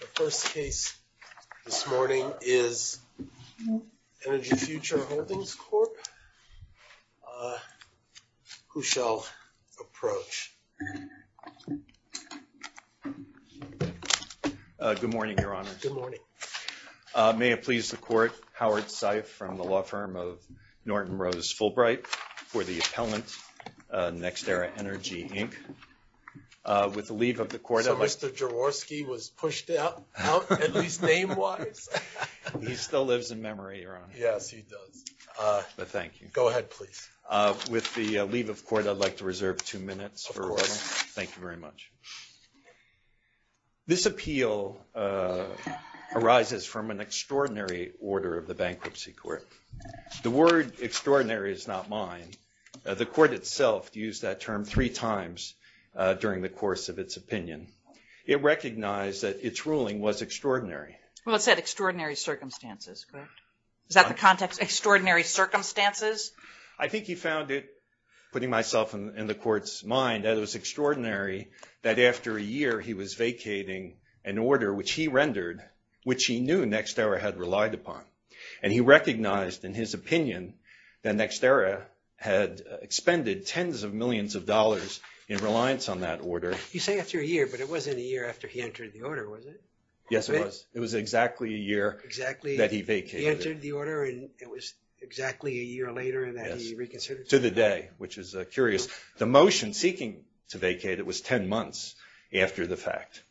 The first case this morning is Energy Future Holdings Corp., who shall approach. Good morning, Your Honor. Good morning. May it please the Court, Howard Seif from the law firm of Norton Rose Fulbright for the appellant, NextEra Energy, Inc. So Mr. Jaworski was pushed out, at least name-wise? He still lives in memory, Your Honor. Yes, he does. But thank you. Go ahead, please. With the leave of court, I'd like to reserve two minutes. Of course. Thank you very much. This appeal arises from an extraordinary order of the Bankruptcy Court. The word extraordinary is not mine. The court itself used that term three times during the course of its opinion. It recognized that its ruling was extraordinary. Well, it said extraordinary circumstances, correct? Is that the context? Extraordinary circumstances? I think he found it, putting myself in the court's mind, that it was extraordinary that after a year, he was vacating an order which he rendered, which he knew NextEra had relied upon. And he recognized in his opinion that NextEra had expended tens of millions of dollars in reliance on that order. You say after a year, but it wasn't a year after he entered the order, was it? Yes, it was. It was exactly a year that he vacated it. Exactly. He entered the order, and it was exactly a year later that he reconsidered it? Yes, to the day, which is curious. The motion seeking to vacate it was 10 months after the fact.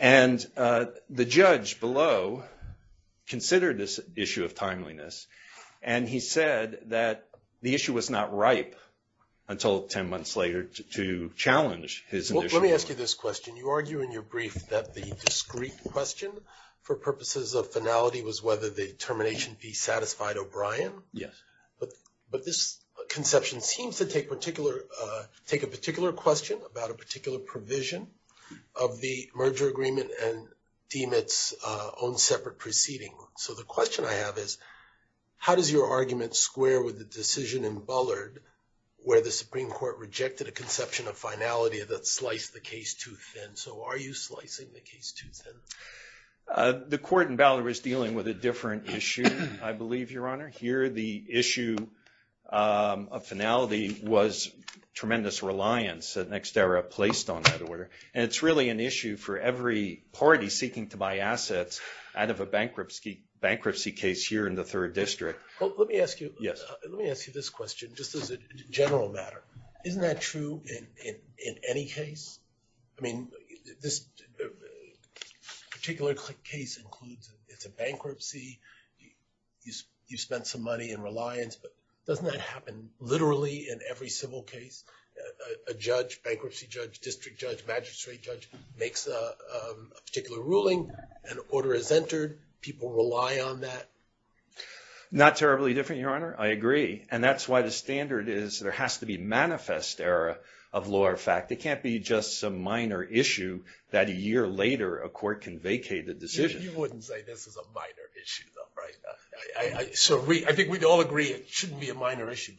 And the judge below considered this issue of timeliness, and he said that the issue was not ripe until 10 months later to challenge his initiative. Well, let me ask you this question. You argue in your brief that the discreet question for purposes of finality was whether the termination be satisfied O'Brien. Yes. But this conception seems to take a particular question about a particular provision of the merger agreement and deem its own separate proceeding. So the question I have is, how does your argument square with the decision in Bullard where the Supreme Court rejected a conception of finality that sliced the case too thin? So are you slicing the case too thin? The court in Bullard was dealing with a different issue, I believe, Your Honor. Here the issue of finality was tremendous reliance that NextEra placed on that order. And it's really an issue for every party seeking to buy assets out of a bankruptcy case here in the Third District. Well, let me ask you this question just as a general matter. Isn't that true in any case? I mean, this particular case includes it's a bankruptcy. You spent some money in reliance, but doesn't that happen literally in every civil case? A judge, bankruptcy judge, district judge, magistrate judge makes a particular ruling. An order is entered. People rely on that. Not terribly different, Your Honor. I agree. And that's why the standard is there has to be manifest error of law or fact. It can't be just some minor issue that a year later a court can vacate the decision. You wouldn't say this is a minor issue, though, right? So I think we'd all agree it shouldn't be a minor issue.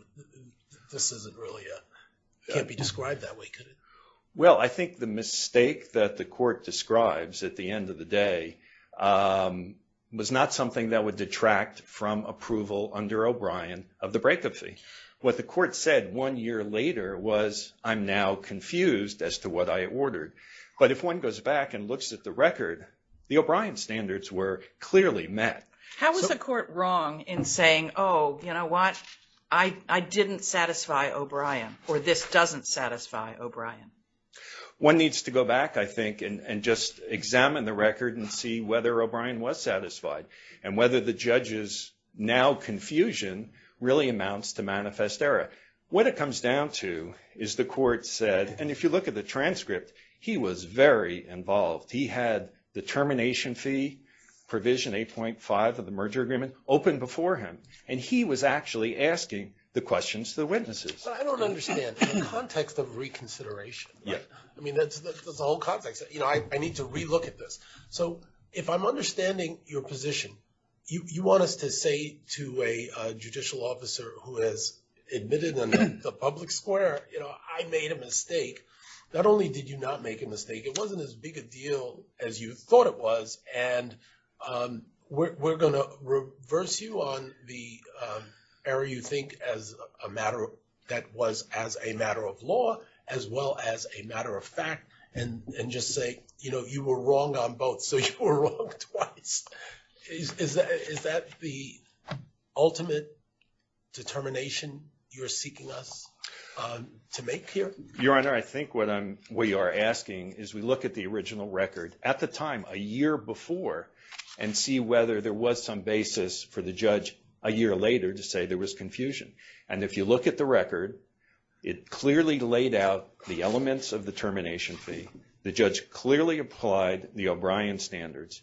This isn't really a – can't be described that way, could it? Well, I think the mistake that the court describes at the end of the day was not something that would detract from approval under O'Brien of the bankruptcy. What the court said one year later was, I'm now confused as to what I ordered. But if one goes back and looks at the record, the O'Brien standards were clearly met. How is the court wrong in saying, oh, you know what, I didn't satisfy O'Brien or this doesn't satisfy O'Brien? One needs to go back, I think, and just examine the record and see whether O'Brien was satisfied and whether the judge's now confusion really amounts to manifest error. What it comes down to is the court said – and if you look at the transcript, he was very involved. He had the termination fee provision 8.5 of the merger agreement open before him. And he was actually asking the questions to the witnesses. I don't understand. In the context of reconsideration, I mean, that's the whole context. You know, I need to relook at this. So if I'm understanding your position, you want us to say to a judicial officer who has admitted in the public square, you know, I made a mistake. Not only did you not make a mistake, it wasn't as big a deal as you thought it was. And we're going to reverse you on the error you think as a matter that was as a matter of law as well as a matter of fact and just say, you know, you were wrong on both, so you were wrong twice. Is that the ultimate determination you're seeking us to make here? Your Honor, I think what we are asking is we look at the original record at the time, a year before, and see whether there was some basis for the judge a year later to say there was confusion. And if you look at the record, it clearly laid out the elements of the termination fee. The judge clearly applied the O'Brien standards.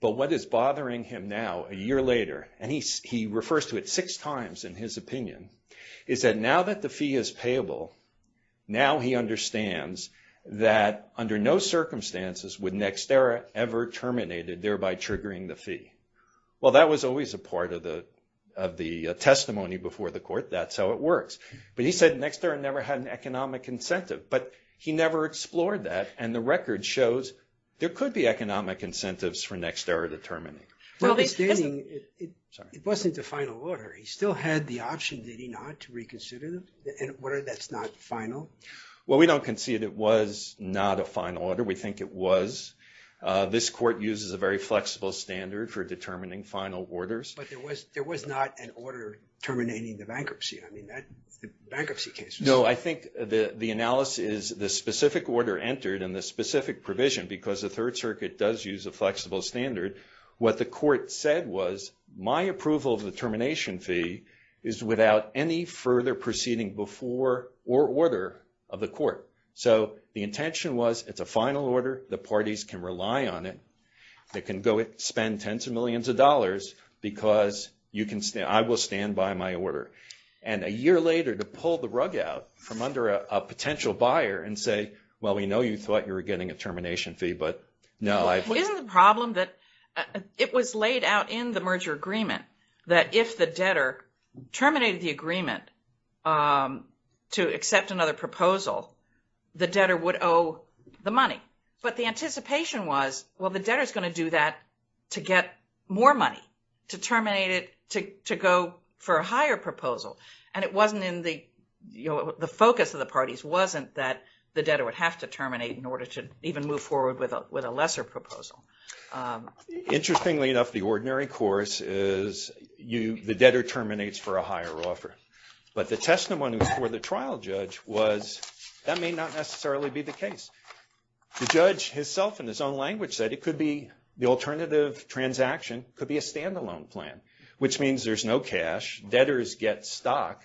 But what is bothering him now, a year later, and he refers to it six times in his opinion, is that now that the fee is payable, now he understands that under no circumstances would Nextera ever terminate it, thereby triggering the fee. Well, that was always a part of the testimony before the court. That's how it works. But he said Nextera never had an economic incentive. But he never explored that. And the record shows there could be economic incentives for Nextera to terminate. It wasn't the final order. He still had the option, did he not, to reconsider the order that's not final? Well, we don't concede it was not a final order. We think it was. This court uses a very flexible standard for determining final orders. But there was not an order terminating the bankruptcy. I mean, that's the bankruptcy case. No, I think the analysis, the specific order entered and the specific provision, because the Third Circuit does use a flexible standard, what the court said was my approval of the termination fee is without any further proceeding before or order of the court. So the intention was it's a final order. The parties can rely on it. They can go spend tens of millions of dollars because I will stand by my order. And a year later to pull the rug out from under a potential buyer and say, well, we know you thought you were getting a termination fee, but no. Isn't the problem that it was laid out in the merger agreement that if the debtor terminated the agreement to accept another proposal, the debtor would owe the money. But the anticipation was, well, the debtor is going to do that to get more money, to terminate it, to go for a higher proposal. And it wasn't in the focus of the parties, wasn't that the debtor would have to terminate in order to even move forward with a lesser proposal. Interestingly enough, the ordinary course is the debtor terminates for a higher offer. But the testimony before the trial judge was that may not necessarily be the case. The judge himself in his own language said it could be the alternative transaction could be a standalone plan, which means there's no cash, debtors get stock.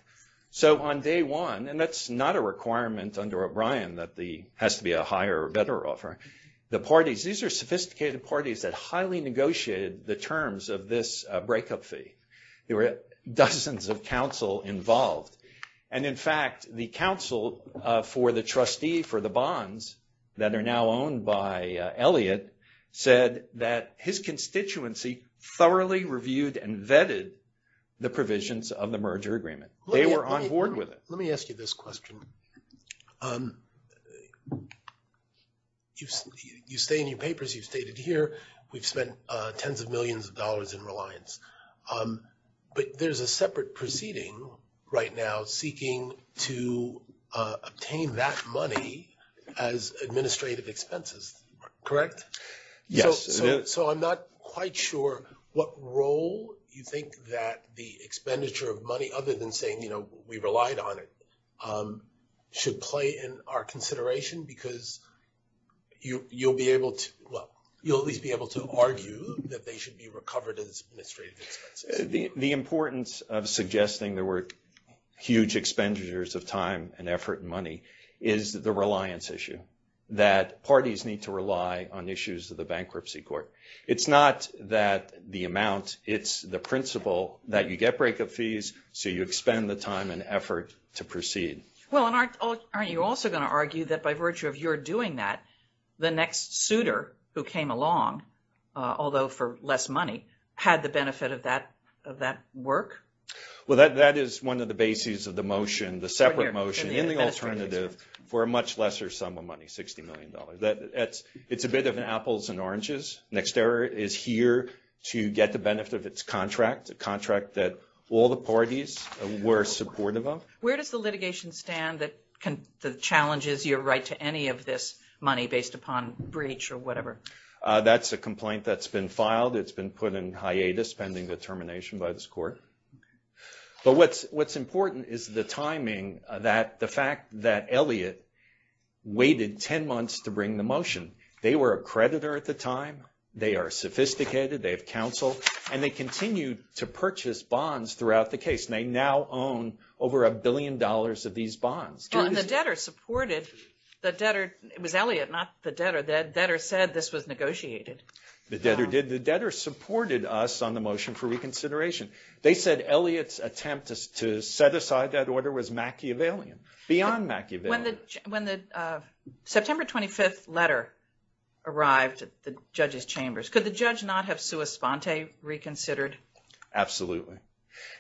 So on day one, and that's not a requirement under O'Brien that there has to be a higher or better offer. The parties, these are sophisticated parties that highly negotiated the terms of this breakup fee. There were dozens of counsel involved. And in fact, the counsel for the trustee for the bonds that are now owned by Elliot said that his constituency thoroughly reviewed and vetted the provisions of the merger agreement. They were on board with it. Let me ask you this question. You say in your papers, you've stated here, we've spent tens of millions of dollars in reliance. But there's a separate proceeding right now seeking to obtain that money as administrative expenses, correct? Yes. So I'm not quite sure what role you think that the expenditure of money, other than saying, you know, we relied on it, should play in our consideration because you'll be able to, well, you'll at least be able to argue that they should be recovered as administrative expenses. The importance of suggesting there were huge expenditures of time and effort and money is the reliance issue, that parties need to rely on issues of the bankruptcy court. It's not that the amount, it's the principle that you get breakup fees, so you expend the time and effort to proceed. Well, and aren't you also going to argue that by virtue of your doing that, the next suitor who came along, although for less money, had the benefit of that work? Well, that is one of the bases of the motion, the separate motion in the alternative for a much lesser sum of money, $60 million. It's a bit of an apples and oranges. Nextera is here to get the benefit of its contract, a contract that all the parties were supportive of. Where does the litigation stand that the challenge is your right to any of this money based upon breach or whatever? That's a complaint that's been filed. It's been put in hiatus pending the termination by this court. But what's important is the timing, the fact that Elliott waited 10 months to bring the motion. They were a creditor at the time. They are sophisticated. They have counsel, and they continued to purchase bonds throughout the case. They now own over a billion dollars of these bonds. The debtor supported. It was Elliott, not the debtor. The debtor said this was negotiated. The debtor did. The debtor supported us on the motion for reconsideration. They said Elliott's attempt to set aside that order was Machiavellian, beyond Machiavellian. When the September 25th letter arrived at the judges' chambers, could the judge not have sua sponte reconsidered? Absolutely.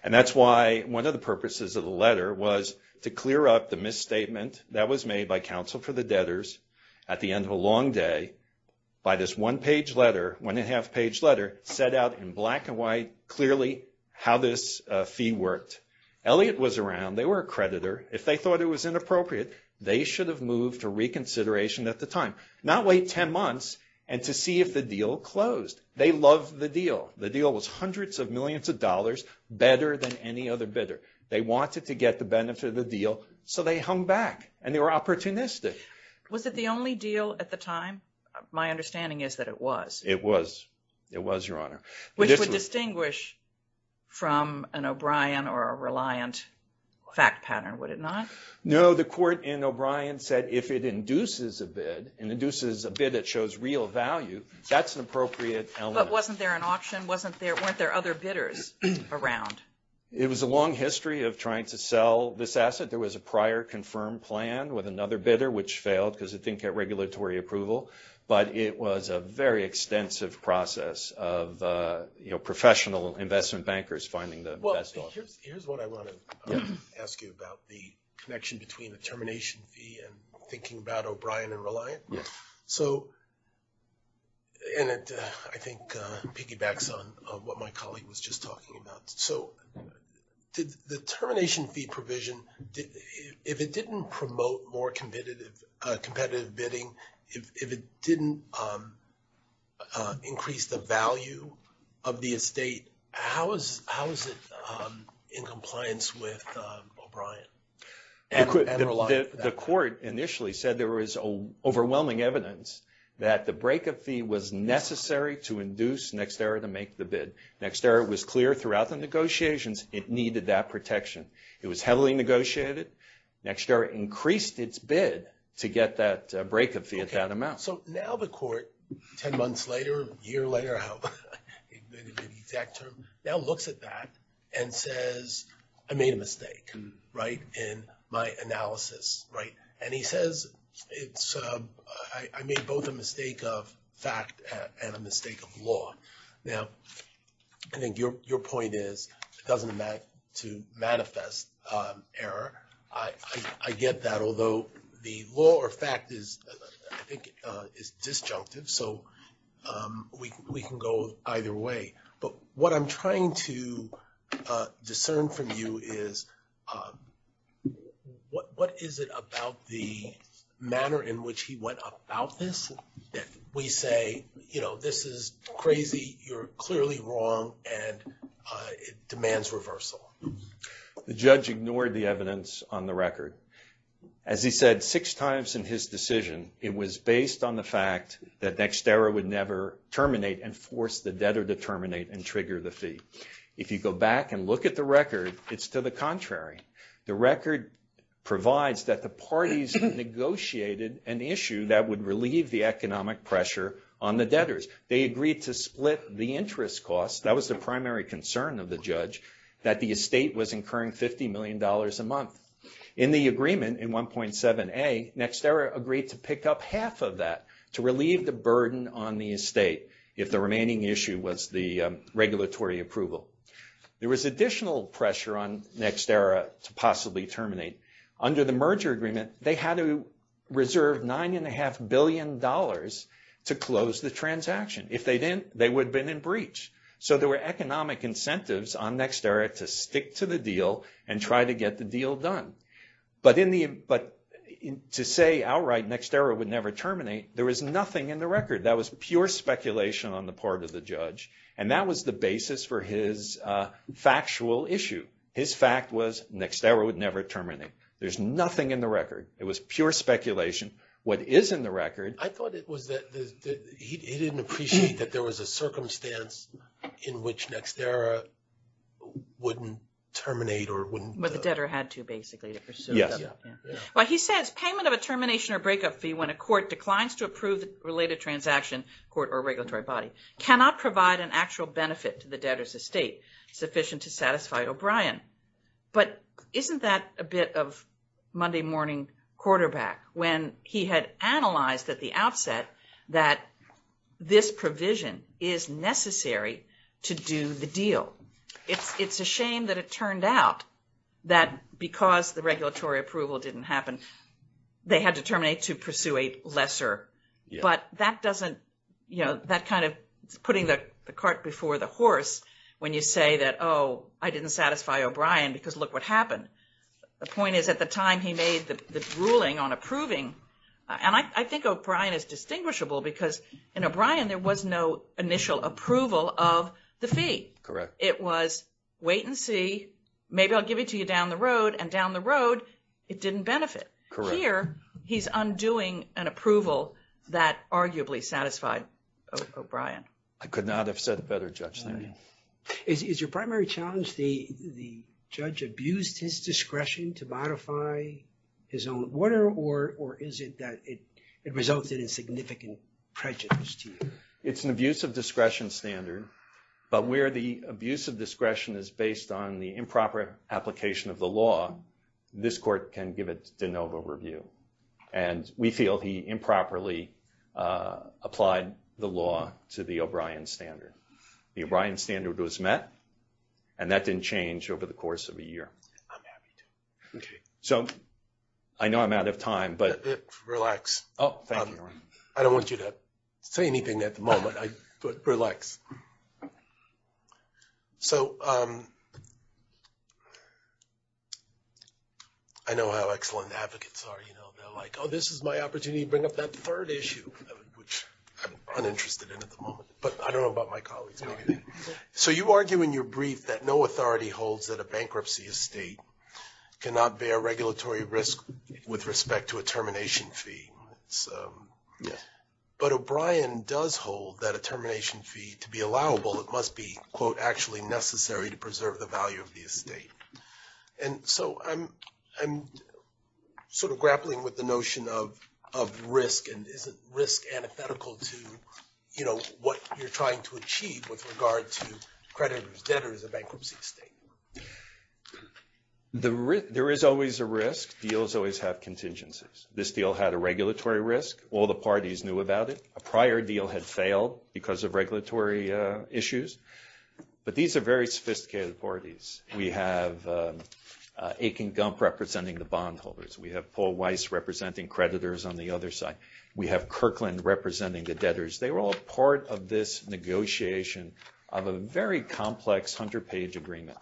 And that's why one of the purposes of the letter was to clear up the misstatement that was made by counsel for the debtors at the end of a long day by this one-page letter, one-and-a-half-page letter, set out in black and white clearly how this fee worked. Elliott was around. They were a creditor. If they thought it was inappropriate, they should have moved to reconsideration at the time, not wait 10 months and to see if the deal closed. They loved the deal. The deal was hundreds of millions of dollars, better than any other bidder. They wanted to get the benefit of the deal, so they hung back, and they were opportunistic. Was it the only deal at the time? My understanding is that it was. It was. It was, Your Honor. Which would distinguish from an O'Brien or a Reliant fact pattern, would it not? No. The court in O'Brien said if it induces a bid and induces a bid that shows real value, that's an appropriate element. But wasn't there an auction? Weren't there other bidders around? It was a long history of trying to sell this asset. There was a prior confirmed plan with another bidder, which failed because it didn't get regulatory approval. But it was a very extensive process of professional investment bankers finding the best offer. Here's what I want to ask you about, the connection between the termination fee and thinking about O'Brien and Reliant. Yes. And it, I think, piggybacks on what my colleague was just talking about. So the termination fee provision, if it didn't promote more competitive bidding, if it didn't increase the value of the estate, how is it in compliance with O'Brien and Reliant? The court initially said there was overwhelming evidence that the breakup fee was necessary to induce NextEra to make the bid. NextEra was clear throughout the negotiations it needed that protection. It was heavily negotiated. NextEra increased its bid to get that breakup fee at that amount. So now the court, 10 months later, a year later, I don't know the exact term, now looks at that and says, I made a mistake in my analysis. And he says, I made both a mistake of fact and a mistake of law. Now, I think your point is, it doesn't matter to manifest error. I get that, although the law or fact is, I think, is disjunctive. So we can go either way. But what I'm trying to discern from you is, what is it about the manner in which he went about this? We say, you know, this is crazy, you're clearly wrong, and it demands reversal. The judge ignored the evidence on the record. As he said six times in his decision, it was based on the fact that NextEra would never terminate and force the debtor to terminate and trigger the fee. If you go back and look at the record, it's to the contrary. The record provides that the parties negotiated an issue that would relieve the economic pressure on the debtors. They agreed to split the interest costs. That was the primary concern of the judge, that the estate was incurring $50 million a month. In the agreement, in 1.7a, NextEra agreed to pick up half of that to relieve the burden on the estate if the remaining issue was the regulatory approval. There was additional pressure on NextEra to possibly terminate. Under the merger agreement, they had to reserve $9.5 billion to close the transaction. If they didn't, they would have been in breach. So there were economic incentives on NextEra to stick to the deal and try to get the deal done. But to say outright NextEra would never terminate, there was nothing in the record. That was pure speculation on the part of the judge. And that was the basis for his factual issue. His fact was NextEra would never terminate. There's nothing in the record. It was pure speculation. What is in the record… I thought it was that he didn't appreciate that there was a circumstance in which NextEra wouldn't terminate or wouldn't… But the debtor had to, basically, to pursue the… Yes. Well, he says payment of a termination or breakup fee when a court declines to approve related transaction, court or regulatory body, cannot provide an actual benefit to the debtor's estate sufficient to satisfy O'Brien. But isn't that a bit of Monday morning quarterback when he had analyzed at the outset that this provision is necessary to do the deal? It's a shame that it turned out that because the regulatory approval didn't happen, they had to terminate to pursue a lesser. But that doesn't… That kind of putting the cart before the horse when you say that, oh, I didn't satisfy O'Brien because look what happened. The point is at the time he made the ruling on approving… And I think O'Brien is distinguishable because in O'Brien, there was no initial approval of the fee. Correct. It was wait and see. Maybe I'll give it to you down the road. And down the road, it didn't benefit. Correct. Here, he's undoing an approval that arguably satisfied O'Brien. I could not have said it better, Judge. Is your primary challenge the judge abused his discretion to modify his own order or is it that it resulted in significant prejudice to you? It's an abuse of discretion standard, but where the abuse of discretion is based on the improper application of the law, this court can give it de novo review. And we feel he improperly applied the law to the O'Brien standard. The O'Brien standard was met and that didn't change over the course of a year. I'm happy to. Okay. So, I know I'm out of time, but… Relax. Oh, thank you. I don't want you to say anything at the moment, but relax. So, I know how excellent advocates are. They're like, oh, this is my opportunity to bring up that third issue, which I'm uninterested in at the moment, but I don't know about my colleagues. So, you argue in your brief that no authority holds that a bankruptcy estate cannot bear regulatory risk with respect to a termination fee. Yeah. But O'Brien does hold that a termination fee, to be allowable, it must be, quote, actually necessary to preserve the value of the estate. And so, I'm sort of grappling with the notion of risk and is it risk antithetical to, you know, what you're trying to achieve with regard to creditors debtors of bankruptcy estate? There is always a risk. Deals always have contingencies. This deal had a regulatory risk. All the parties knew about it. A prior deal had failed because of regulatory issues. But these are very sophisticated parties. We have Akin Gump representing the bondholders. We have Paul Weiss representing creditors on the other side. We have Kirkland representing the debtors. They were all part of this negotiation of a very complex 100-page agreement.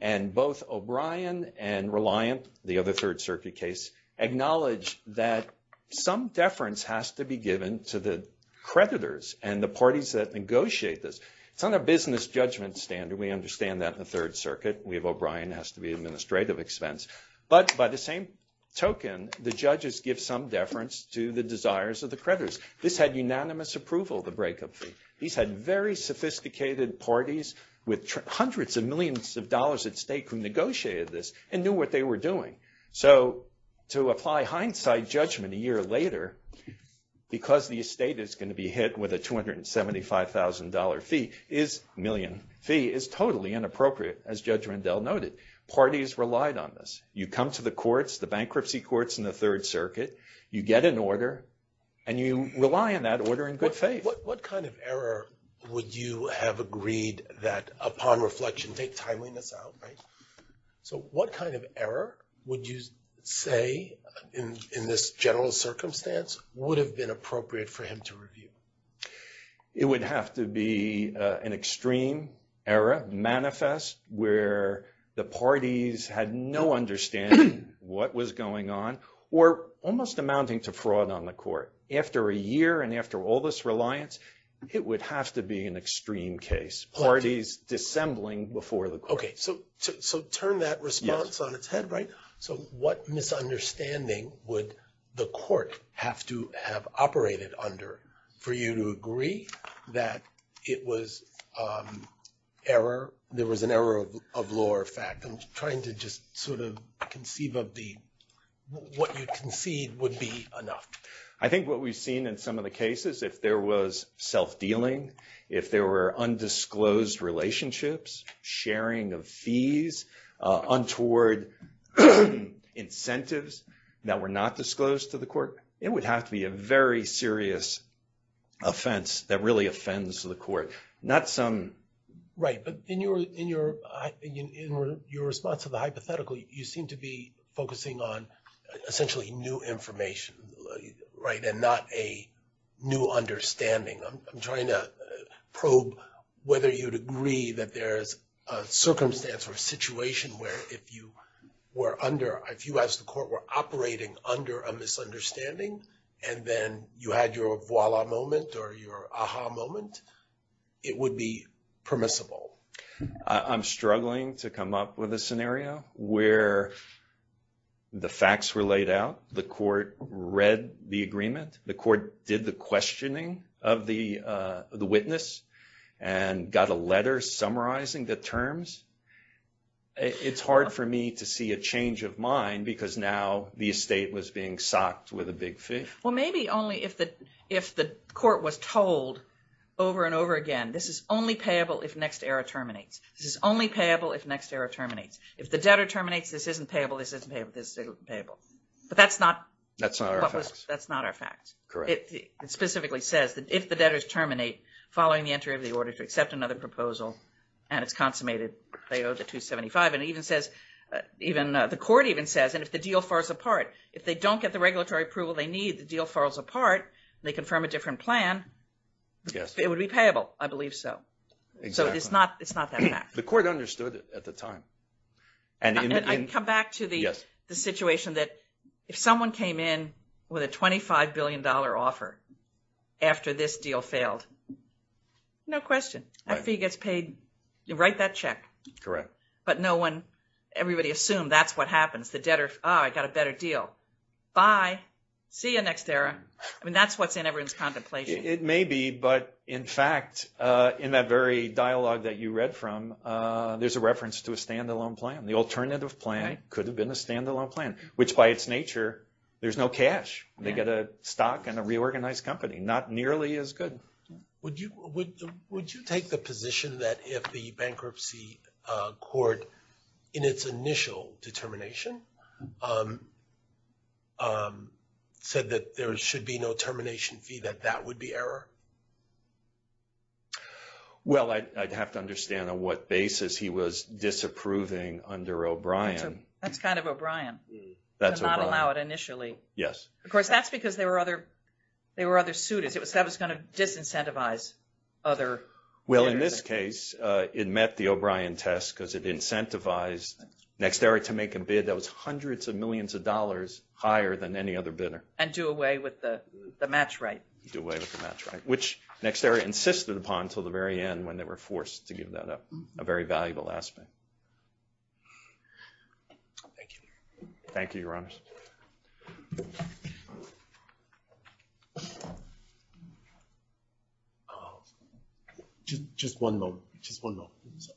And both O'Brien and Reliant, the other Third Circuit case, acknowledge that some deference has to be given to the creditors and the parties that negotiate this. It's not a business judgment standard. We understand that in the Third Circuit. We have O'Brien has to be administrative expense. But by the same token, the judges give some deference to the desires of the creditors. This had unanimous approval, the breakup fee. These had very sophisticated parties with hundreds of millions of dollars at stake who negotiated this and knew what they were doing. So to apply hindsight judgment a year later, because the estate is going to be hit with a $275,000 fee, a million fee, is totally inappropriate, as Judge Rendell noted. Parties relied on this. You come to the courts, the bankruptcy courts in the Third Circuit, you get an order, and you rely on that order in good faith. What kind of error would you have agreed that, upon reflection, take timeliness out? So what kind of error would you say, in this general circumstance, would have been appropriate for him to review? It would have to be an extreme error, manifest, where the parties had no understanding what was going on or almost amounting to fraud on the court. After a year and after all this reliance, it would have to be an extreme case, parties dissembling before the court. Okay, so turn that response on its head, right? So what misunderstanding would the court have to have operated under for you to agree that it was error, there was an error of law or fact? I'm trying to just sort of conceive of the, what you concede would be enough. I think what we've seen in some of the cases, if there was self-dealing, if there were undisclosed relationships, sharing of fees, untoward incentives that were not disclosed to the court, it would have to be a very serious offense that really offends the court. Right, but in your response to the hypothetical, you seem to be focusing on essentially new information, right, and not a new understanding. I'm trying to probe whether you'd agree that there's a circumstance or a situation where if you were under, if you as the court were operating under a misunderstanding, and then you had your voila moment or your aha moment, it would be permissible. I'm struggling to come up with a scenario where the facts were laid out, the court read the agreement, the court did the questioning of the witness, and got a letter summarizing the terms. It's hard for me to see a change of mind because now the estate was being socked with a big fee. Well, maybe only if the court was told over and over again, this is only payable if next error terminates. This is only payable if next error terminates. If the debtor terminates, this isn't payable, this isn't payable, this isn't payable. But that's not our facts. It specifically says that if the debtors terminate following the entry of the order to accept another proposal and it's consummated, they owe the 275. The court even says, and if the deal falls apart, if they don't get the regulatory approval they need, the deal falls apart, they confirm a different plan, it would be payable. I believe so. Exactly. It's not that fact. The court understood it at the time. I come back to the situation that if someone came in with a $25 billion offer after this deal failed, no question, that fee gets paid. You write that check. Correct. But no one, everybody assumed that's what happens. The debtor, oh, I got a better deal. Bye. See you next error. I mean, that's what's in everyone's contemplation. It may be, but in fact, in that very dialogue that you read from, there's a reference to a standalone plan. The alternative plan could have been a standalone plan, which by its nature, there's no cash. They get a stock and a reorganized company. Not nearly as good. Would you take the position that if the bankruptcy court, in its initial determination, said that there should be no termination fee, that that would be error? Well, I'd have to understand on what basis he was disapproving under O'Brien. That's kind of O'Brien. That's O'Brien. To not allow it initially. Yes. Of course, that's because there were other suitors. That was going to disincentivize other debtors. Well, in this case, it met the O'Brien test because it incentivized NextEra to make a bid that was hundreds of millions of dollars higher than any other bidder. And do away with the match right. Do away with the match right, which NextEra insisted upon until the very end when they were forced to give that up. A very valuable aspect. Thank you. Thank you, Your Honor. Just one moment. Just one moment. Just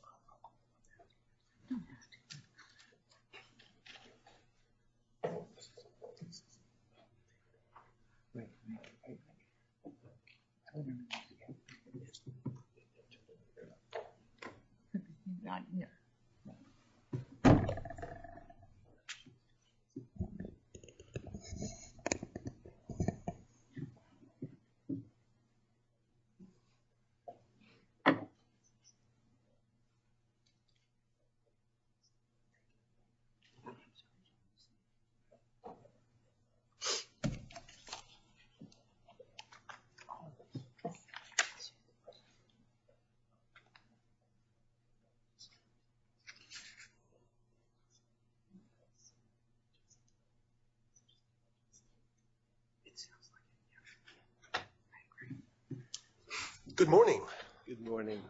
one moment. Good morning. Good morning.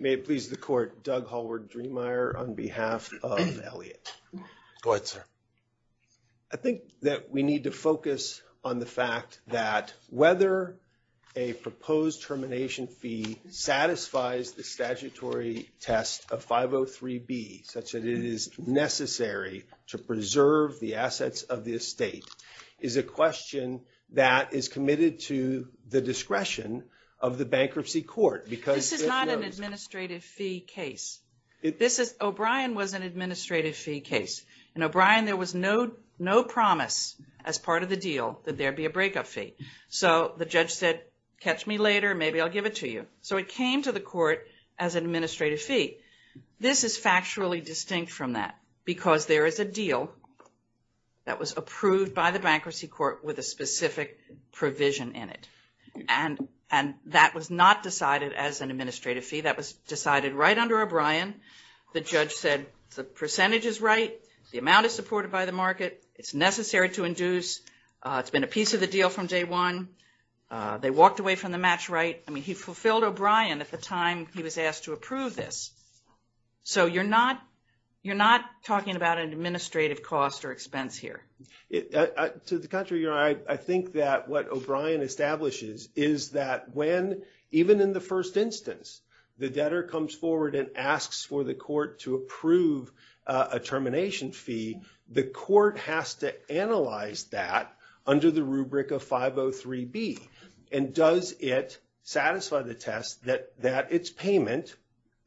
May it please the court, Doug Hallward-Dreemeyer, on behalf of Elliot. Go ahead, sir. I think that we need to focus on the fact that whether a proposed termination fee satisfies the statutory test of 503B, such that it is necessary to presume that there is no termination fee, of the estate is a question that is committed to the discretion of the bankruptcy court. This is not an administrative fee case. O'Brien was an administrative fee case. In O'Brien, there was no promise as part of the deal that there would be a breakup fee. So the judge said, catch me later, maybe I'll give it to you. So it came to the court as an administrative fee. This is factually distinct from that because there is a deal that was approved by the bankruptcy court with a specific provision in it. And that was not decided as an administrative fee. That was decided right under O'Brien. The judge said the percentage is right. The amount is supported by the market. It's necessary to induce. It's been a piece of the deal from day one. They walked away from the match right. I mean, he fulfilled O'Brien at the time he was asked to approve this. So you're not talking about an administrative cost or expense here. To the contrary, I think that what O'Brien establishes is that when even in the first instance, the debtor comes forward and asks for the court to approve a termination fee, the court has to analyze that under the rubric of 503B. And does it satisfy the test that its payment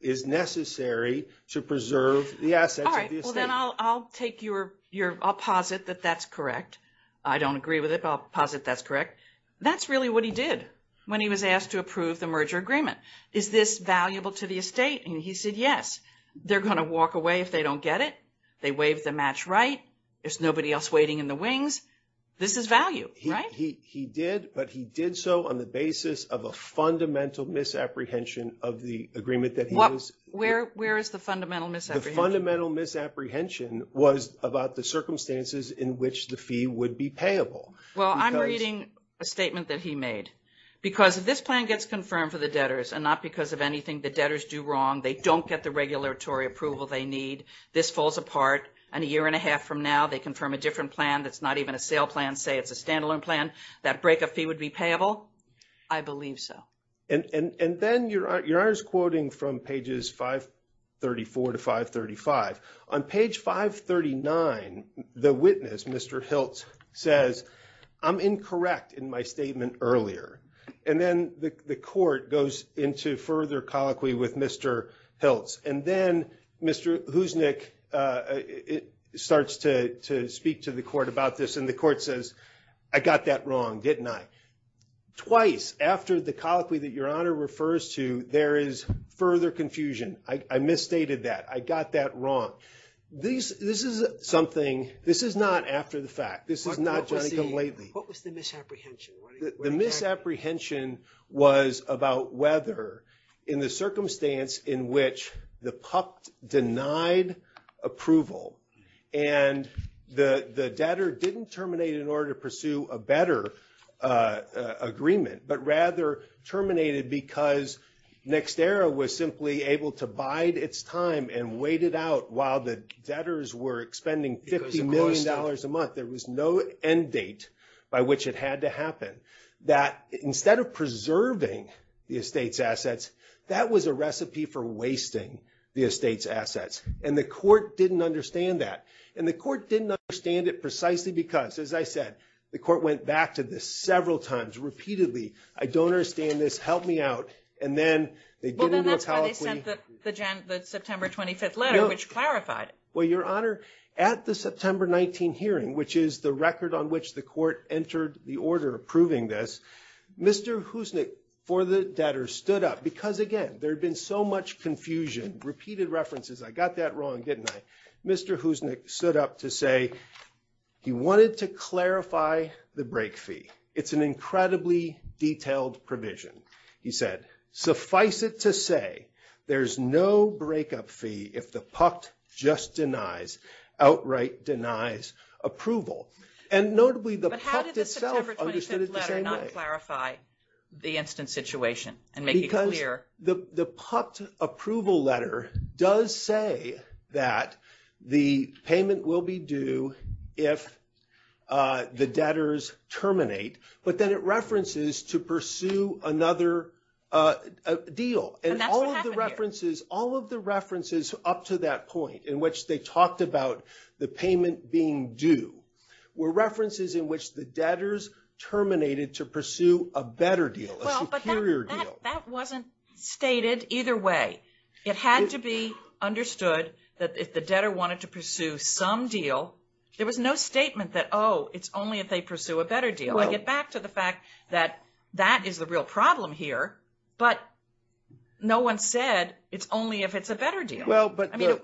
is necessary to preserve the assets of the estate? All right. Well, then I'll take your, I'll posit that that's correct. I don't agree with it, but I'll posit that's correct. That's really what he did when he was asked to approve the merger agreement. Is this valuable to the estate? And he said yes. They're going to walk away if they don't get it. They waived the match right. There's nobody else waiting in the wings. This is value, right? He did, but he did so on the basis of a fundamental misapprehension of the agreement that he was. Where is the fundamental misapprehension? The fundamental misapprehension was about the circumstances in which the fee would be payable. Well, I'm reading a statement that he made. Because if this plan gets confirmed for the debtors and not because of anything the debtors do wrong, they don't get the regulatory approval they need, this falls apart, and a year and a half from now they confirm a different plan that's not even a sale plan, say it's a standalone plan, that breakup fee would be payable. I believe so. And then your Honor's quoting from pages 534 to 535. On page 539, the witness, Mr. Hiltz, says, I'm incorrect in my statement earlier. And then the court goes into further colloquy with Mr. Hiltz. And then Mr. Huznik starts to speak to the court about this, and the court says, I got that wrong, didn't I? Twice after the colloquy that your Honor refers to, there is further confusion. I misstated that. I got that wrong. This is something, this is not after the fact. What was the misapprehension? The misapprehension was about whether in the circumstance in which the PUP denied approval and the debtor didn't terminate in order to pursue a better agreement, but rather terminated because NextEra was simply able to bide its time and wait it out while the debtors were expending $50 million a month. There was no end date by which it had to happen. That instead of preserving the estate's assets, that was a recipe for wasting the estate's assets. And the court didn't understand that. And the court didn't understand it precisely because, as I said, the court went back to this several times repeatedly. I don't understand this. And then they get into a colloquy. Well, then that's why they sent the September 25th letter, which clarified it. Well, Your Honor, at the September 19 hearing, which is the record on which the court entered the order approving this, Mr. Husnik, for the debtor, stood up because, again, there had been so much confusion, repeated references. I got that wrong, didn't I? Mr. Husnik stood up to say he wanted to clarify the break fee. It's an incredibly detailed provision. He said, suffice it to say, there's no breakup fee if the PUCT just denies, outright denies approval. And notably, the PUCT itself understood it the same way. But how did the September 25th letter not clarify the instant situation and make it clear? Because the PUCT approval letter does say that the payment will be due if the debtors terminate. But then it references to pursue another deal. And all of the references up to that point, in which they talked about the payment being due, were references in which the debtors terminated to pursue a better deal, a superior deal. That wasn't stated either way. It had to be understood that if the debtor wanted to pursue some deal, there was no statement that, oh, it's only if they pursue a better deal. I get back to the fact that that is the real problem here. But no one said it's only if it's a better deal.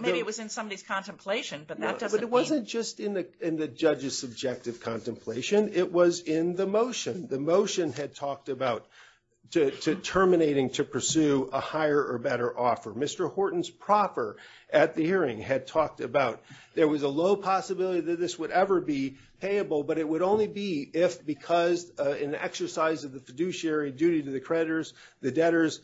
Maybe it was in somebody's contemplation, but that doesn't mean... But it wasn't just in the judge's subjective contemplation. It was in the motion. The motion had talked about terminating to pursue a higher or better offer. Mr. Horton's proffer at the hearing had talked about there was a low possibility that this would ever be payable. But it would only be if because in the exercise of the fiduciary duty to the creditors, the debtors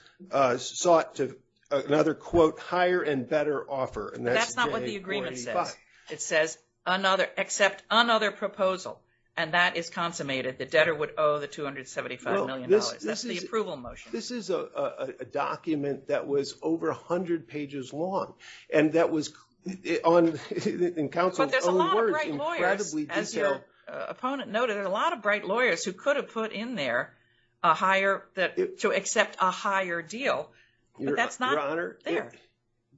sought to, another quote, hire and better offer. That's not what the agreement says. It says, accept another proposal. And that is consummated. The debtor would owe the $275 million. That's the approval motion. This is a document that was over 100 pages long. And that was, in counsel's own words, incredibly detailed. But there's a lot of great lawyers, as your opponent noted. There's a lot of great lawyers who could have put in there to accept a higher deal. But that's not there.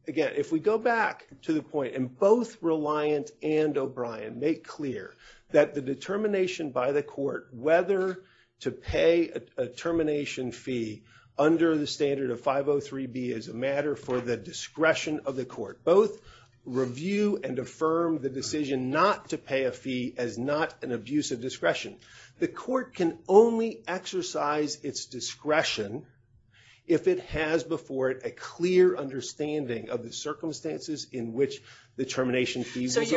Again, if we go back to the point, and both Reliant and O'Brien make clear that the determination by the court whether to pay a termination fee under the standard of 503B is a matter for the discretion of the court. Both review and affirm the decision not to pay a fee as not an abuse of discretion. The court can only exercise its discretion if it has before it a clear understanding of the circumstances in which the termination fee was obtained.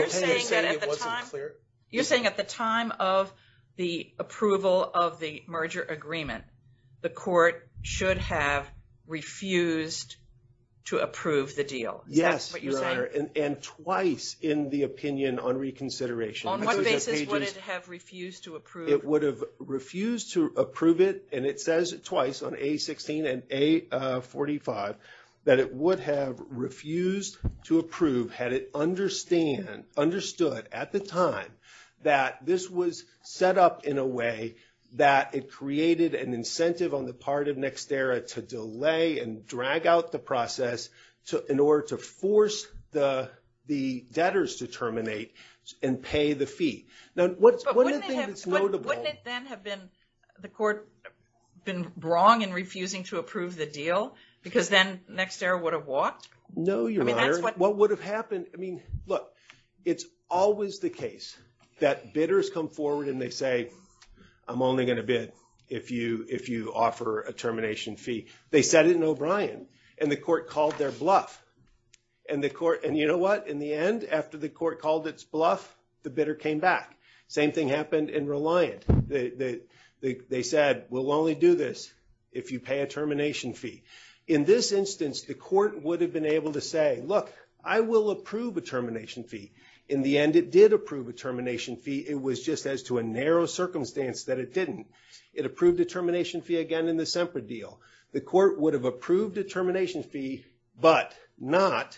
You're saying at the time of the approval of the merger agreement, the court should have refused to approve the deal. Yes, Your Honor. And twice in the opinion on reconsideration. On what basis would it have refused to approve? It would have refused to approve it. And it says twice on A16 and A45 that it would have refused to approve had it understood at the time that this was set up in a way that it created an incentive on the part of Nexterra to delay and drag out the process in order to force the debtors to terminate and pay the fee. But wouldn't it then have been the court been wrong in refusing to approve the deal? Because then Nexterra would have walked? No, Your Honor. What would have happened? I mean, look, it's always the case that bidders come forward and they say, I'm only going to bid if you offer a termination fee. They said it in O'Brien, and the court called their bluff. And you know what? In the end, after the court called its bluff, the bidder came back. Same thing happened in Reliant. They said, we'll only do this if you pay a termination fee. In this instance, the court would have been able to say, look, I will approve a termination fee. In the end, it did approve a termination fee. It was just as to a narrow circumstance that it didn't. It approved a termination fee again in the Semper deal. The court would have approved a termination fee, but not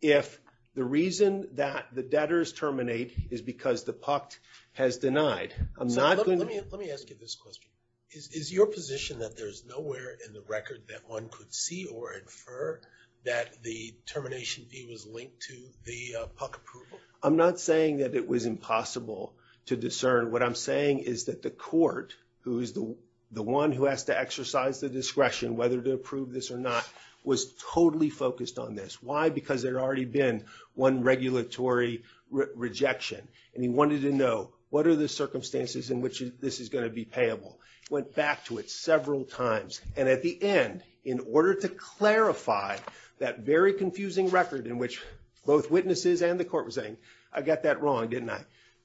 if the reason that the debtors terminate is because the PUCT has denied. Let me ask you this question. Is your position that there's nowhere in the record that one could see or infer that the termination fee was linked to the PUCT approval? I'm not saying that it was impossible to discern. What I'm saying is that the court, who is the one who has to exercise the discretion whether to approve this or not, was totally focused on this. Why? Because there had already been one regulatory rejection. And he wanted to know, what are the circumstances in which this is going to be payable? Went back to it several times. And at the end, in order to clarify that very confusing record in which both witnesses and the court were saying, I got that wrong, didn't I?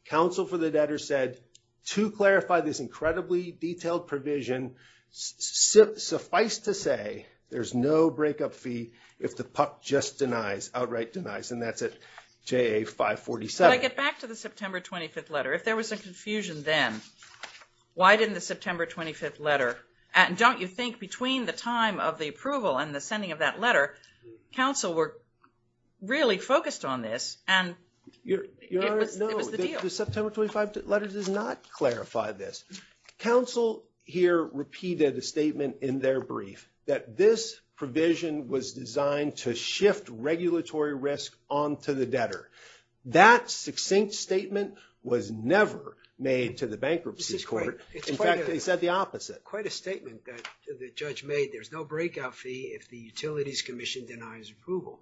Counsel for the debtor said, to clarify this incredibly detailed provision, suffice to say, there's no breakup fee if the PUCT just denies, outright denies. And that's at JA 547. Can I get back to the September 25th letter? If there was a confusion then, why didn't the September 25th letter? And don't you think between the time of the approval and the sending of that letter, counsel were really focused on this and it was the deal. No, the September 25th letter does not clarify this. Counsel here repeated a statement in their brief that this provision was designed to shift regulatory risk onto the debtor. That succinct statement was never made to the bankruptcy court. In fact, they said the opposite. Quite a statement that the judge made. There's no breakout fee if the Utilities Commission denies approval.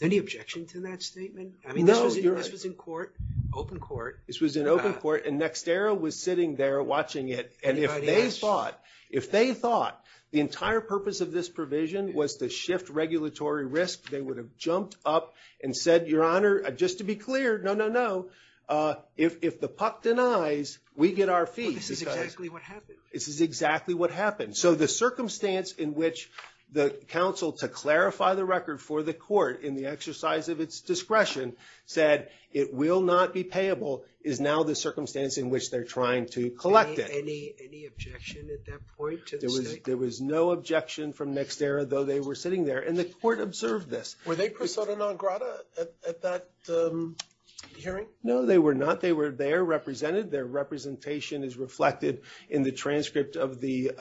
Any objection to that statement? I mean, this was in court, open court. This was in open court, and NextEra was sitting there watching it. And if they thought, if they thought the entire purpose of this provision was to shift regulatory risk, they would have jumped up and said, Your Honor, just to be clear, no, no, no. If the PUC denies, we get our fee. This is exactly what happened. This is exactly what happened. So the circumstance in which the counsel, to clarify the record for the court in the exercise of its discretion, said it will not be payable is now the circumstance in which they're trying to collect it. Any objection at that point to the statement? There was no objection from NextEra, though they were sitting there, and the court observed this. Were they persona non grata at that hearing? No, they were not. They were there, represented. Their representation is reflected in the transcript of the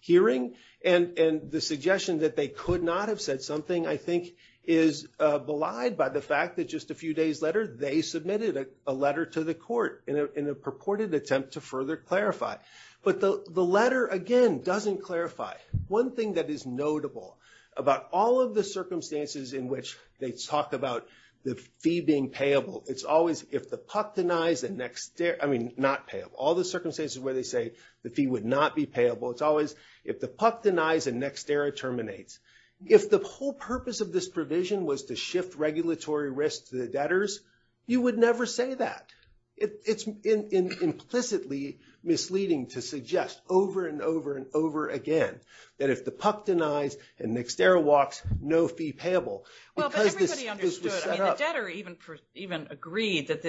hearing. And the suggestion that they could not have said something, I think, is belied by the fact that just a few days later, they submitted a letter to the court in a purported attempt to further clarify. But the letter, again, doesn't clarify. One thing that is notable about all of the circumstances in which they talk about the fee being payable, it's always if the PUC denies and NextEra, I mean, not payable. All the circumstances where they say the fee would not be payable, it's always if the PUC denies and NextEra terminates. If the whole purpose of this provision was to shift regulatory risk to the debtors, you would never say that. It's implicitly misleading to suggest over and over and over again that if the PUC denies and NextEra walks, no fee payable. Well, but everybody understood. I mean, the debtor even agreed that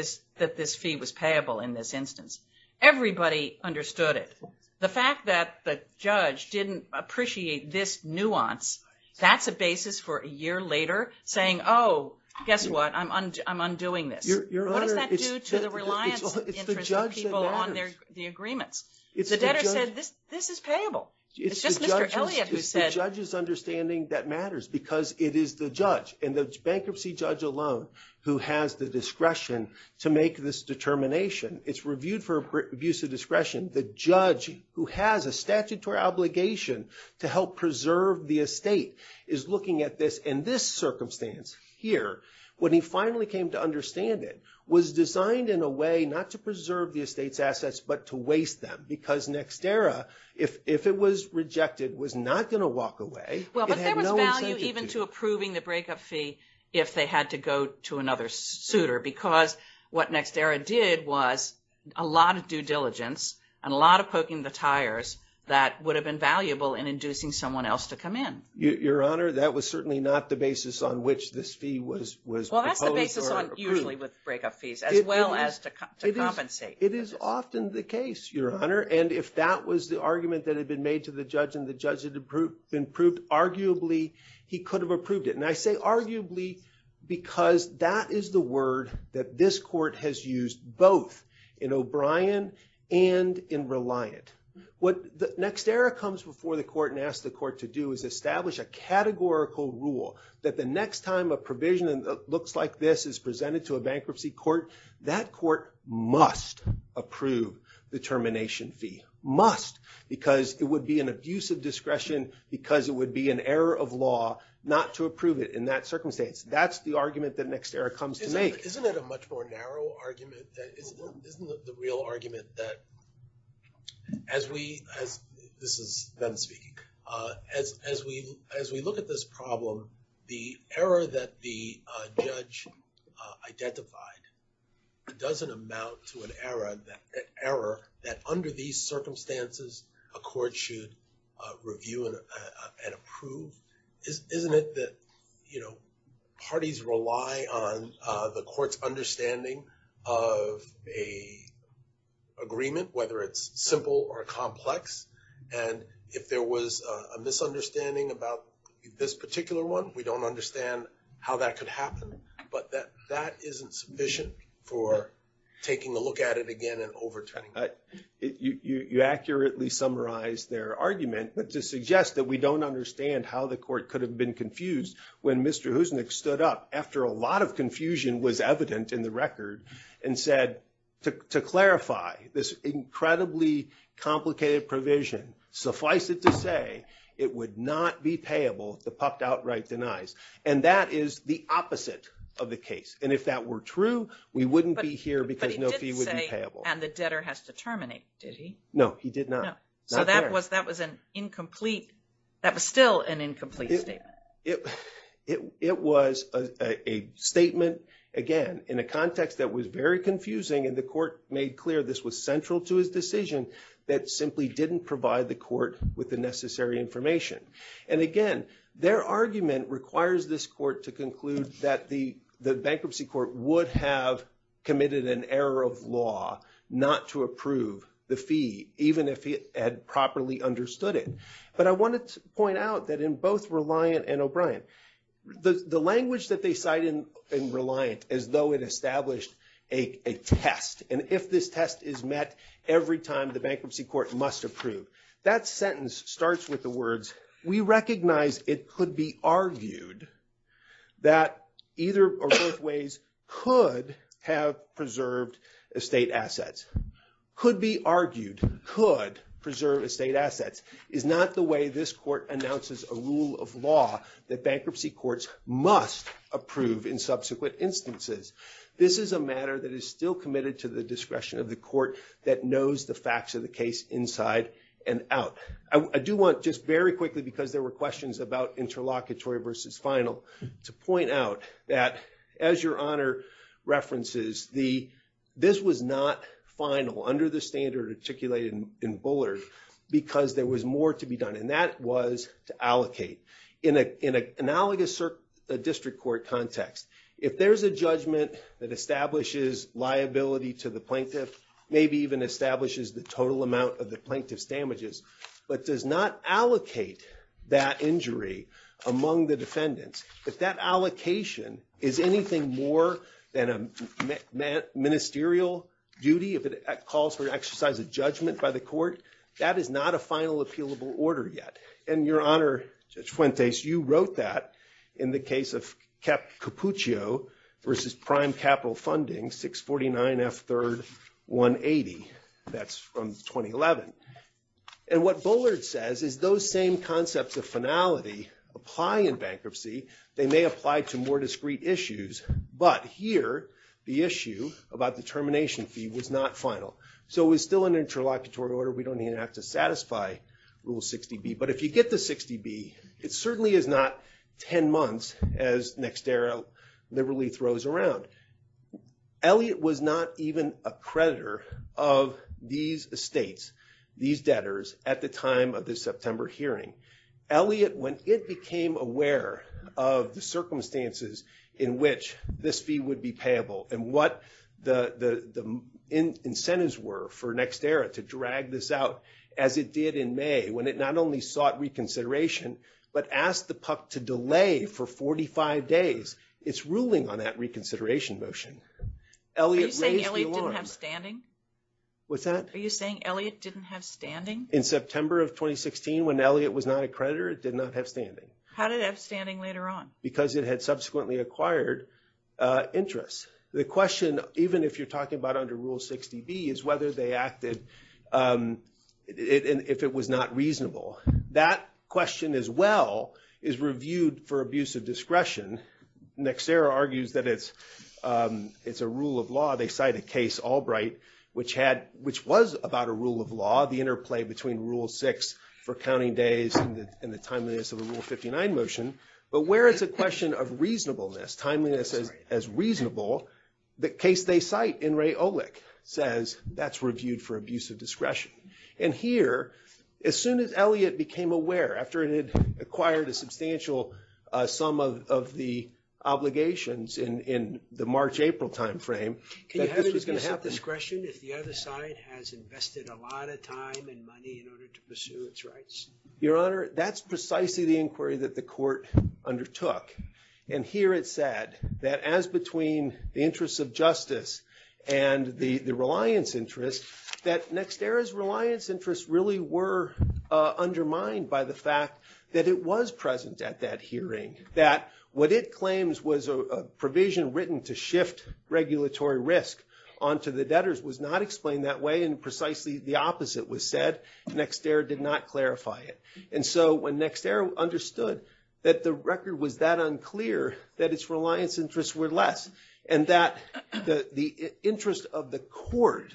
this fee was payable in this instance. Everybody understood it. The fact that the judge didn't appreciate this nuance, that's a basis for a year later saying, oh, guess what, I'm undoing this. What does that do to the reliance of people on the agreements? The debtor said, this is payable. It's just Mr. Elliott who said. It's the judge's understanding that matters because it is the judge and the bankruptcy judge alone who has the discretion to make this determination. It's reviewed for abuse of discretion. The judge who has a statutory obligation to help preserve the estate is looking at this. In this circumstance here, when he finally came to understand it, was designed in a way not to preserve the estate's assets, but to waste them. Because NextEra, if it was rejected, was not going to walk away. It had no incentive to. Well, but there was value even to approving the breakup fee if they had to go to another suitor. Because what NextEra did was a lot of due diligence and a lot of poking the tires that would have been valuable in inducing someone else to come in. Your Honor, that was certainly not the basis on which this fee was proposed or approved. Well, that's the basis on usually with breakup fees, as well as to compensate. It is often the case, Your Honor. And if that was the argument that had been made to the judge and the judge had approved, arguably, he could have approved it. And I say arguably because that is the word that this court has used both in O'Brien and in Reliant. What NextEra comes before the court and asks the court to do is establish a categorical rule that the next time a provision that looks like this is presented to a bankruptcy court, that court must approve the termination fee. Must, because it would be an abuse of discretion, because it would be an error of law not to approve it in that circumstance. That's the argument that NextEra comes to make. Isn't it a much more narrow argument? Isn't it the real argument that as we, this is them speaking, as we look at this problem, the error that the judge identified doesn't amount to an error that under these circumstances, a court should review and approve? Isn't it that, you know, parties rely on the court's understanding of a agreement, whether it's simple or complex? And if there was a misunderstanding about this particular one, we don't understand how that could happen. But that isn't sufficient for taking a look at it again and overturning it. You accurately summarize their argument. But to suggest that we don't understand how the court could have been confused when Mr. Husnick stood up after a lot of confusion was evident in the record and said, to clarify this incredibly complicated provision, suffice it to say, it would not be payable if the PUP outright denies. And that is the opposite of the case. And if that were true, we wouldn't be here because no fee would be payable. And the debtor has to terminate, did he? No, he did not. So that was an incomplete, that was still an incomplete statement. It was a statement, again, in a context that was very confusing. And the court made clear this was central to his decision that simply didn't provide the court with the necessary information. And again, their argument requires this court to conclude that the bankruptcy court would have committed an error of law not to approve the fee, even if it had properly understood it. But I wanted to point out that in both Reliant and O'Brien, the language that they cite in Reliant as though it established a test. And if this test is met every time, the bankruptcy court must approve. That sentence starts with the words, we recognize it could be argued that either or both ways could have preserved estate assets. Could be argued, could preserve estate assets is not the way this court announces a rule of law that bankruptcy courts must approve in subsequent instances. This is a matter that is still committed to the discretion of the court that knows the facts of the case inside and out. I do want just very quickly, because there were questions about interlocutory versus final, to point out that as your honor references, this was not final under the standard articulated in Bullard. Because there was more to be done, and that was to allocate. In an analogous district court context, if there's a judgment that establishes liability to the plaintiff, maybe even establishes the total amount of the plaintiff's damages, but does not allocate that injury among the defendants. If that allocation is anything more than a ministerial duty, if it calls for an exercise of judgment by the court, that is not a final appealable order yet. And your honor, Judge Fuentes, you wrote that in the case of Capuccio versus prime capital funding, 649 F third 180. That's from 2011. And what Bullard says is those same concepts of finality apply in bankruptcy. They may apply to more discrete issues, but here the issue about the termination fee was not final. So it was still an interlocutory order. We don't even have to satisfy Rule 60B. But if you get to 60B, it certainly is not 10 months, as NextEra liberally throws around. Elliott was not even a creditor of these estates, these debtors, at the time of the September hearing. Elliott, when it became aware of the circumstances in which this fee would be payable, and what the incentives were for NextEra to drag this out, as it did in May, when it not only sought reconsideration, but asked the PUC to delay for 45 days. It's ruling on that reconsideration motion. Elliott raised the alarm. Are you saying Elliott didn't have standing? What's that? Are you saying Elliott didn't have standing? In September of 2016, when Elliott was not a creditor, it did not have standing. How did it have standing later on? Because it had subsequently acquired interest. The question, even if you're talking about under Rule 60B, is whether they acted, if it was not reasonable. That question as well is reviewed for abuse of discretion. NextEra argues that it's a rule of law. They cite a case, Albright, which was about a rule of law, the interplay between Rule 6 for counting days and the timeliness of a Rule 59 motion. But where it's a question of reasonableness, timeliness as reasonable, the case they cite, in Ray Olick, says that's reviewed for abuse of discretion. And here, as soon as Elliott became aware, after it had acquired a substantial sum of the obligations in the March-April time frame, that this was going to happen. Can you have abuse of discretion if the other side has invested a lot of time and money in order to pursue its rights? Your Honor, that's precisely the inquiry that the court undertook. And here it said that as between the interests of justice and the reliance interests, that NextEra's reliance interests really were undermined by the fact that it was present at that hearing. That what it claims was a provision written to shift regulatory risk onto the debtors was not explained that way. And precisely the opposite was said. NextEra did not clarify it. And so when NextEra understood that the record was that unclear, that its reliance interests were less. And that the interest of the court,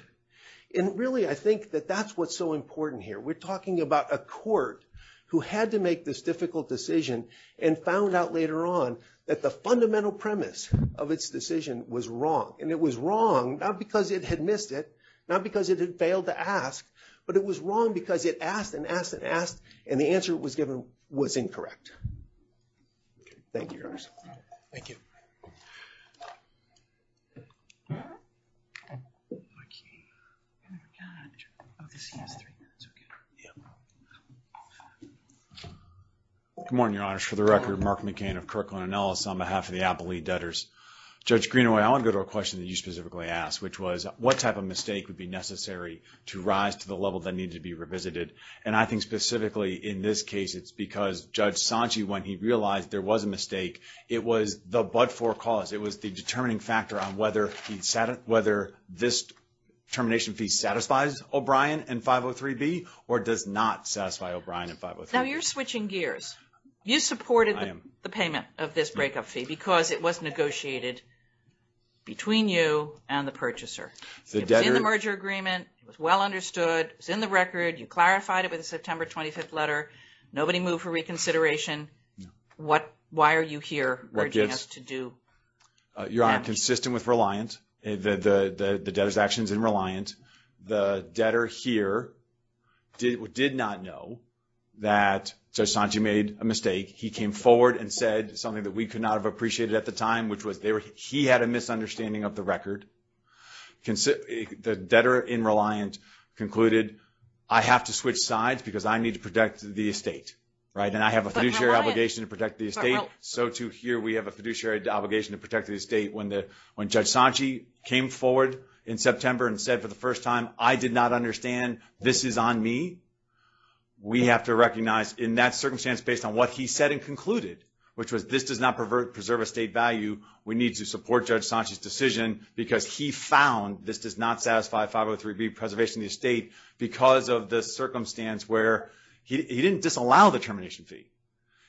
and really I think that that's what's so important here. We're talking about a court who had to make this difficult decision and found out later on that the fundamental premise of its decision was wrong. And it was wrong, not because it had missed it. Not because it had failed to ask. But it was wrong because it asked and asked and asked. And the answer it was given was incorrect. Thank you, Your Honor. Thank you. Good morning, Your Honor. For the record, Mark McCain of Kirkland & Ellis on behalf of the Appellee Debtors. Judge Greenaway, I want to go to a question that you specifically asked. Which was, what type of mistake would be necessary to rise to the level that needed to be revisited? And I think specifically in this case, it's because Judge Sanchi, when he realized there was a mistake, it was the but-for cause. It was the determining factor on whether this termination fee satisfies O'Brien and 503B or does not satisfy O'Brien and 503B. Now, you're switching gears. You supported the payment of this breakup fee because it was negotiated between you and the purchaser. It was in the merger agreement. It was well understood. It was in the record. You clarified it with the September 25th letter. Nobody moved for reconsideration. Why are you here urging us to do that? Your Honor, consistent with Reliant, the debtor's actions in Reliant, the debtor here did not know that Judge Sanchi made a mistake. He came forward and said something that we could not have appreciated at the time, which was he had a misunderstanding of the record. The debtor in Reliant concluded, I have to switch sides because I need to protect the estate. And I have a fiduciary obligation to protect the estate. So, too, here we have a fiduciary obligation to protect the estate. When Judge Sanchi came forward in September and said for the first time, I did not understand. This is on me. We have to recognize in that circumstance based on what he said and concluded, which was this does not preserve estate value. We need to support Judge Sanchi's decision because he found this does not satisfy 503B preservation of the estate because of the circumstance where he didn't disallow the termination fee.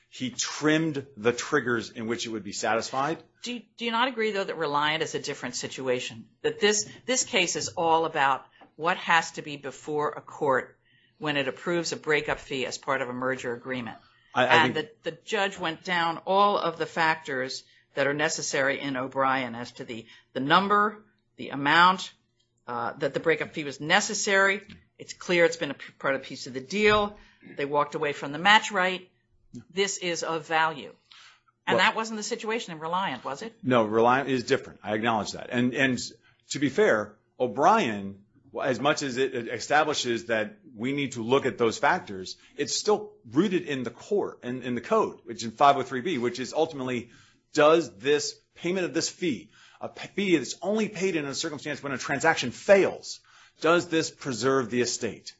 He trimmed the triggers in which it would be satisfied. Do you not agree, though, that Reliant is a different situation? That this case is all about what has to be before a court when it approves a breakup fee as part of a merger agreement? And the judge went down all of the factors that are necessary in O'Brien as to the number, the amount, that the breakup fee was necessary. It's clear it's been part of a piece of the deal. They walked away from the match right. This is of value. And that wasn't the situation in Reliant, was it? No, Reliant is different. I acknowledge that. And to be fair, O'Brien, as much as it establishes that we need to look at those factors, it's still rooted in the court and in the code, which is 503B, which is ultimately does this payment of this fee, a fee that's only paid in a circumstance when a transaction fails, does this preserve the estate?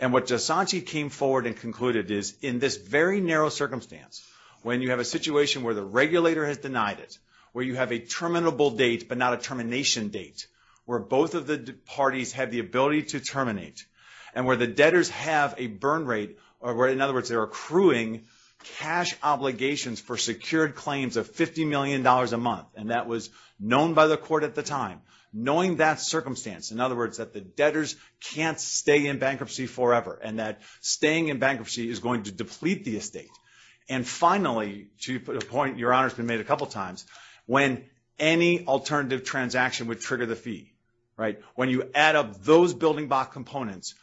And what Jasanti came forward and concluded is in this very narrow circumstance, when you have a situation where the regulator has denied it, where you have a terminable date but not a termination date, where both of the parties have the ability to terminate, and where the debtors have a burn rate, or in other words, they're accruing cash obligations for secured claims of $50 million a month, and that was known by the court at the time, knowing that circumstance, in other words, that the debtors can't stay in bankruptcy forever, and that staying in bankruptcy is going to deplete the estate. And finally, to your point, Your Honor, it's been made a couple times, when any alternative transaction would trigger the fee, right, when you add up those building block components,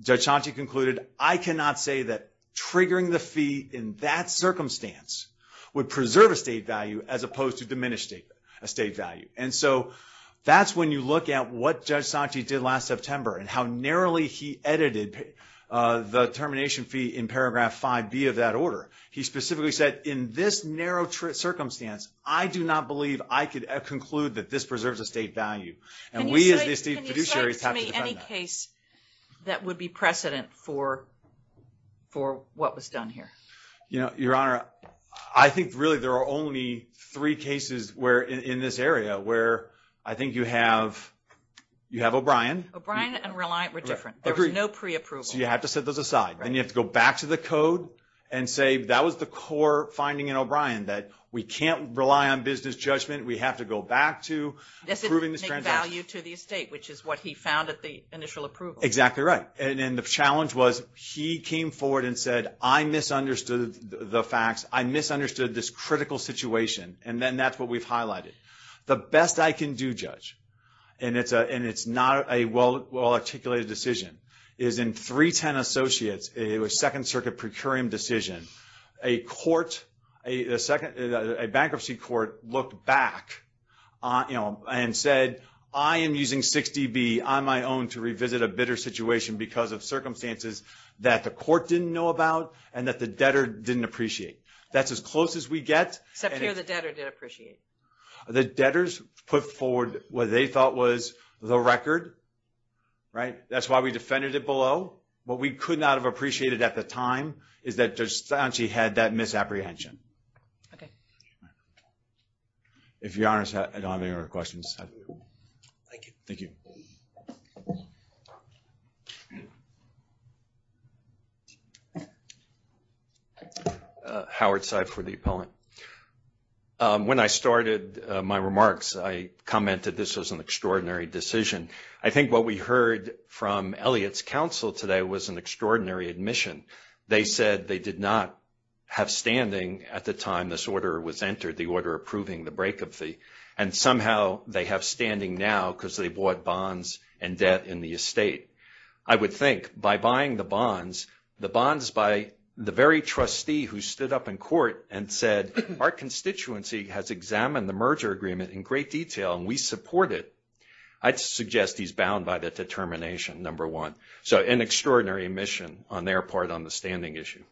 Jasanti concluded, I cannot say that triggering the fee in that circumstance would preserve estate value as opposed to diminish estate value. And so that's when you look at what Jasanti did last September and how narrowly he edited the termination fee in paragraph 5B of that order. He specifically said, in this narrow circumstance, I do not believe I could conclude that this preserves estate value. And we as the estate fiduciaries have to defend that. Can you cite to me any case that would be precedent for what was done here? Your Honor, I think really there are only three cases in this area where I think you have O'Brien. O'Brien and Reliant were different. There was no pre-approval. So you have to set those aside. Then you have to go back to the code and say that was the core finding in O'Brien, that we can't rely on business judgment. We have to go back to proving this transaction. This didn't make value to the estate, which is what he found at the initial approval. Exactly right. And the challenge was he came forward and said, I misunderstood the facts. I misunderstood this critical situation. And then that's what we've highlighted. The best I can do, Judge, and it's not a well-articulated decision, is in 310 Associates, it was a Second Circuit procurium decision. A bankruptcy court looked back and said, I am using 6DB on my own to revisit a bitter situation because of circumstances that the court didn't know about and that the debtor didn't appreciate. That's as close as we get. Except here the debtor did appreciate. The debtors put forward what they thought was the record. That's why we defended it below. What we could not have appreciated at the time is that Judge Sanchi had that misapprehension. Okay. If you're honest, I don't have any other questions. Thank you. Thank you. Howard Seib for the Appellant. When I started my remarks, I commented this was an extraordinary decision. I think what we heard from Elliott's counsel today was an extraordinary admission. They said they did not have standing at the time this order was entered, the order approving the bankruptcy, and somehow they have standing now because they bought bonds and debt in the estate. I would think by buying the bonds, the bonds by the very trustee who stood up in court and said, our constituency has examined the merger agreement in great detail and we support it. I'd suggest he's bound by the determination, number one. So an extraordinary admission on their part on the standing issue.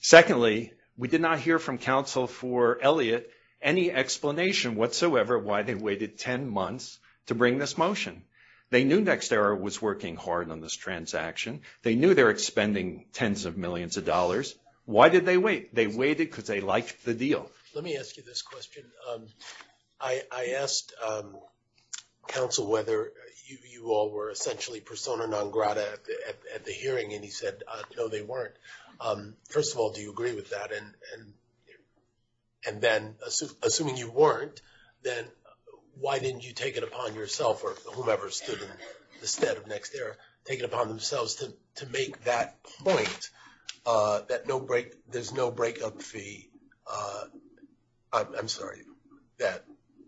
Secondly, we did not hear from counsel for Elliott any explanation whatsoever why they waited 10 months to bring this motion. They knew NextEra was working hard on this transaction. They knew they were expending tens of millions of dollars. Why did they wait? They waited because they liked the deal. Let me ask you this question. I asked counsel whether you all were essentially persona non grata at the hearing, and he said, no, they weren't. First of all, do you agree with that? And then assuming you weren't, then why didn't you take it upon yourself or whomever stood in the stead of NextEra, take it upon themselves to make that point that there's no breakup fee. I'm sorry, that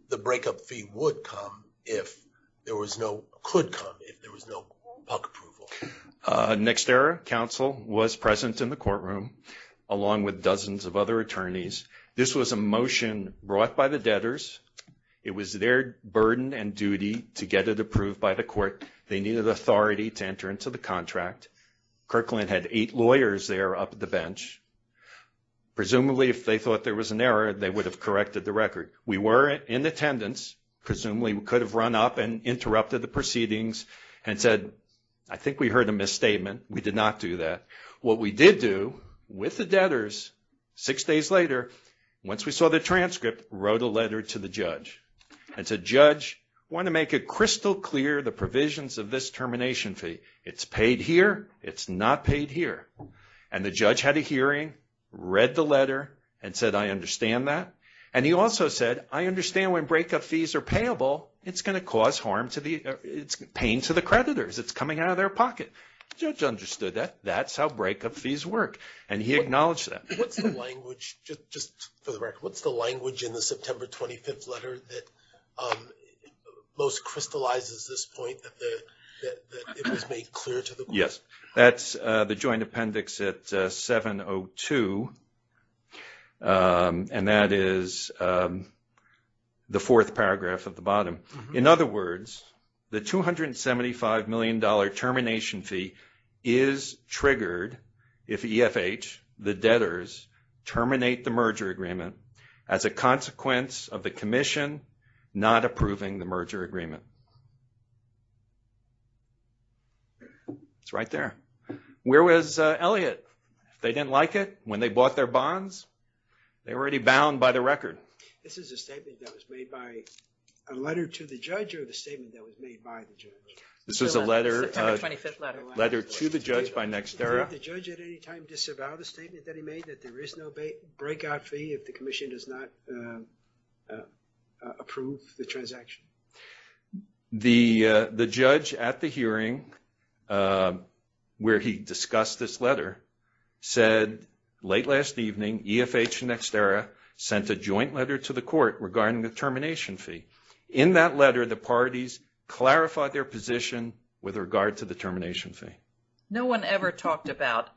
the breakup fee would come if there was no, could come if there was no PUC approval. NextEra counsel was present in the courtroom along with dozens of other attorneys. This was a motion brought by the debtors. It was their burden and duty to get it approved by the court. They needed authority to enter into the contract. Kirkland had eight lawyers there up at the bench. Presumably if they thought there was an error, they would have corrected the record. We were in attendance. Presumably we could have run up and interrupted the proceedings and said, I think we heard a misstatement. We did not do that. What we did do with the debtors six days later, once we saw the transcript, wrote a letter to the judge. And said, judge, I want to make it crystal clear the provisions of this termination fee. It's paid here. It's not paid here. And the judge had a hearing, read the letter, and said, I understand that. And he also said, I understand when breakup fees are payable, it's going to cause harm to the, it's pain to the creditors. It's coming out of their pocket. The judge understood that. That's how breakup fees work. And he acknowledged that. What's the language, just for the record, what's the language in the September 25th letter that most crystallizes this point that it was made clear to the court? Yes, that's the joint appendix at 702. And that is the fourth paragraph at the bottom. In other words, the $275 million termination fee is triggered if EFH, the debtors, terminate the merger agreement as a consequence of the commission not approving the merger agreement. It's right there. Where was Elliott? They didn't like it. When they bought their bonds, they were already bound by the record. This is a statement that was made by a letter to the judge or a statement that was made by the judge? This was a letter to the judge by NextEra. Did the judge at any time disavow the statement that he made that there is no breakout fee if the commission does not approve the transaction? The judge at the hearing, where he discussed this letter, said late last evening, EFH and NextEra sent a joint letter to the court regarding the termination fee. In that letter, the parties clarified their position with regard to the termination fee. No one ever talked about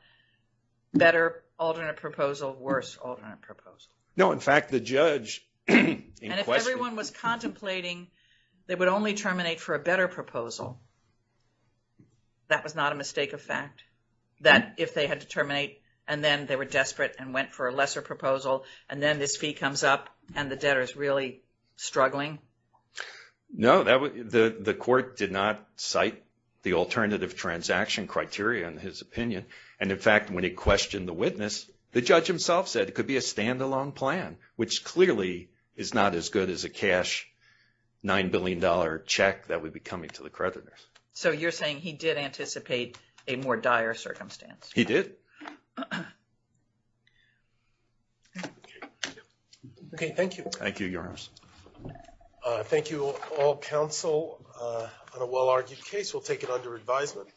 better alternate proposal, worse alternate proposal. No, in fact, the judge... They would only terminate for a better proposal. That was not a mistake of fact? That if they had to terminate and then they were desperate and went for a lesser proposal and then this fee comes up and the debtor is really struggling? No, the court did not cite the alternative transaction criteria in his opinion. And in fact, when he questioned the witness, the judge himself said it could be a stand-alone plan, which clearly is not as good as a cash $9 billion check that would be coming to the creditors. So you're saying he did anticipate a more dire circumstance? He did. Okay, thank you. Thank you, Your Honor. Thank you all counsel on a well-argued case. We'll take it under advisement.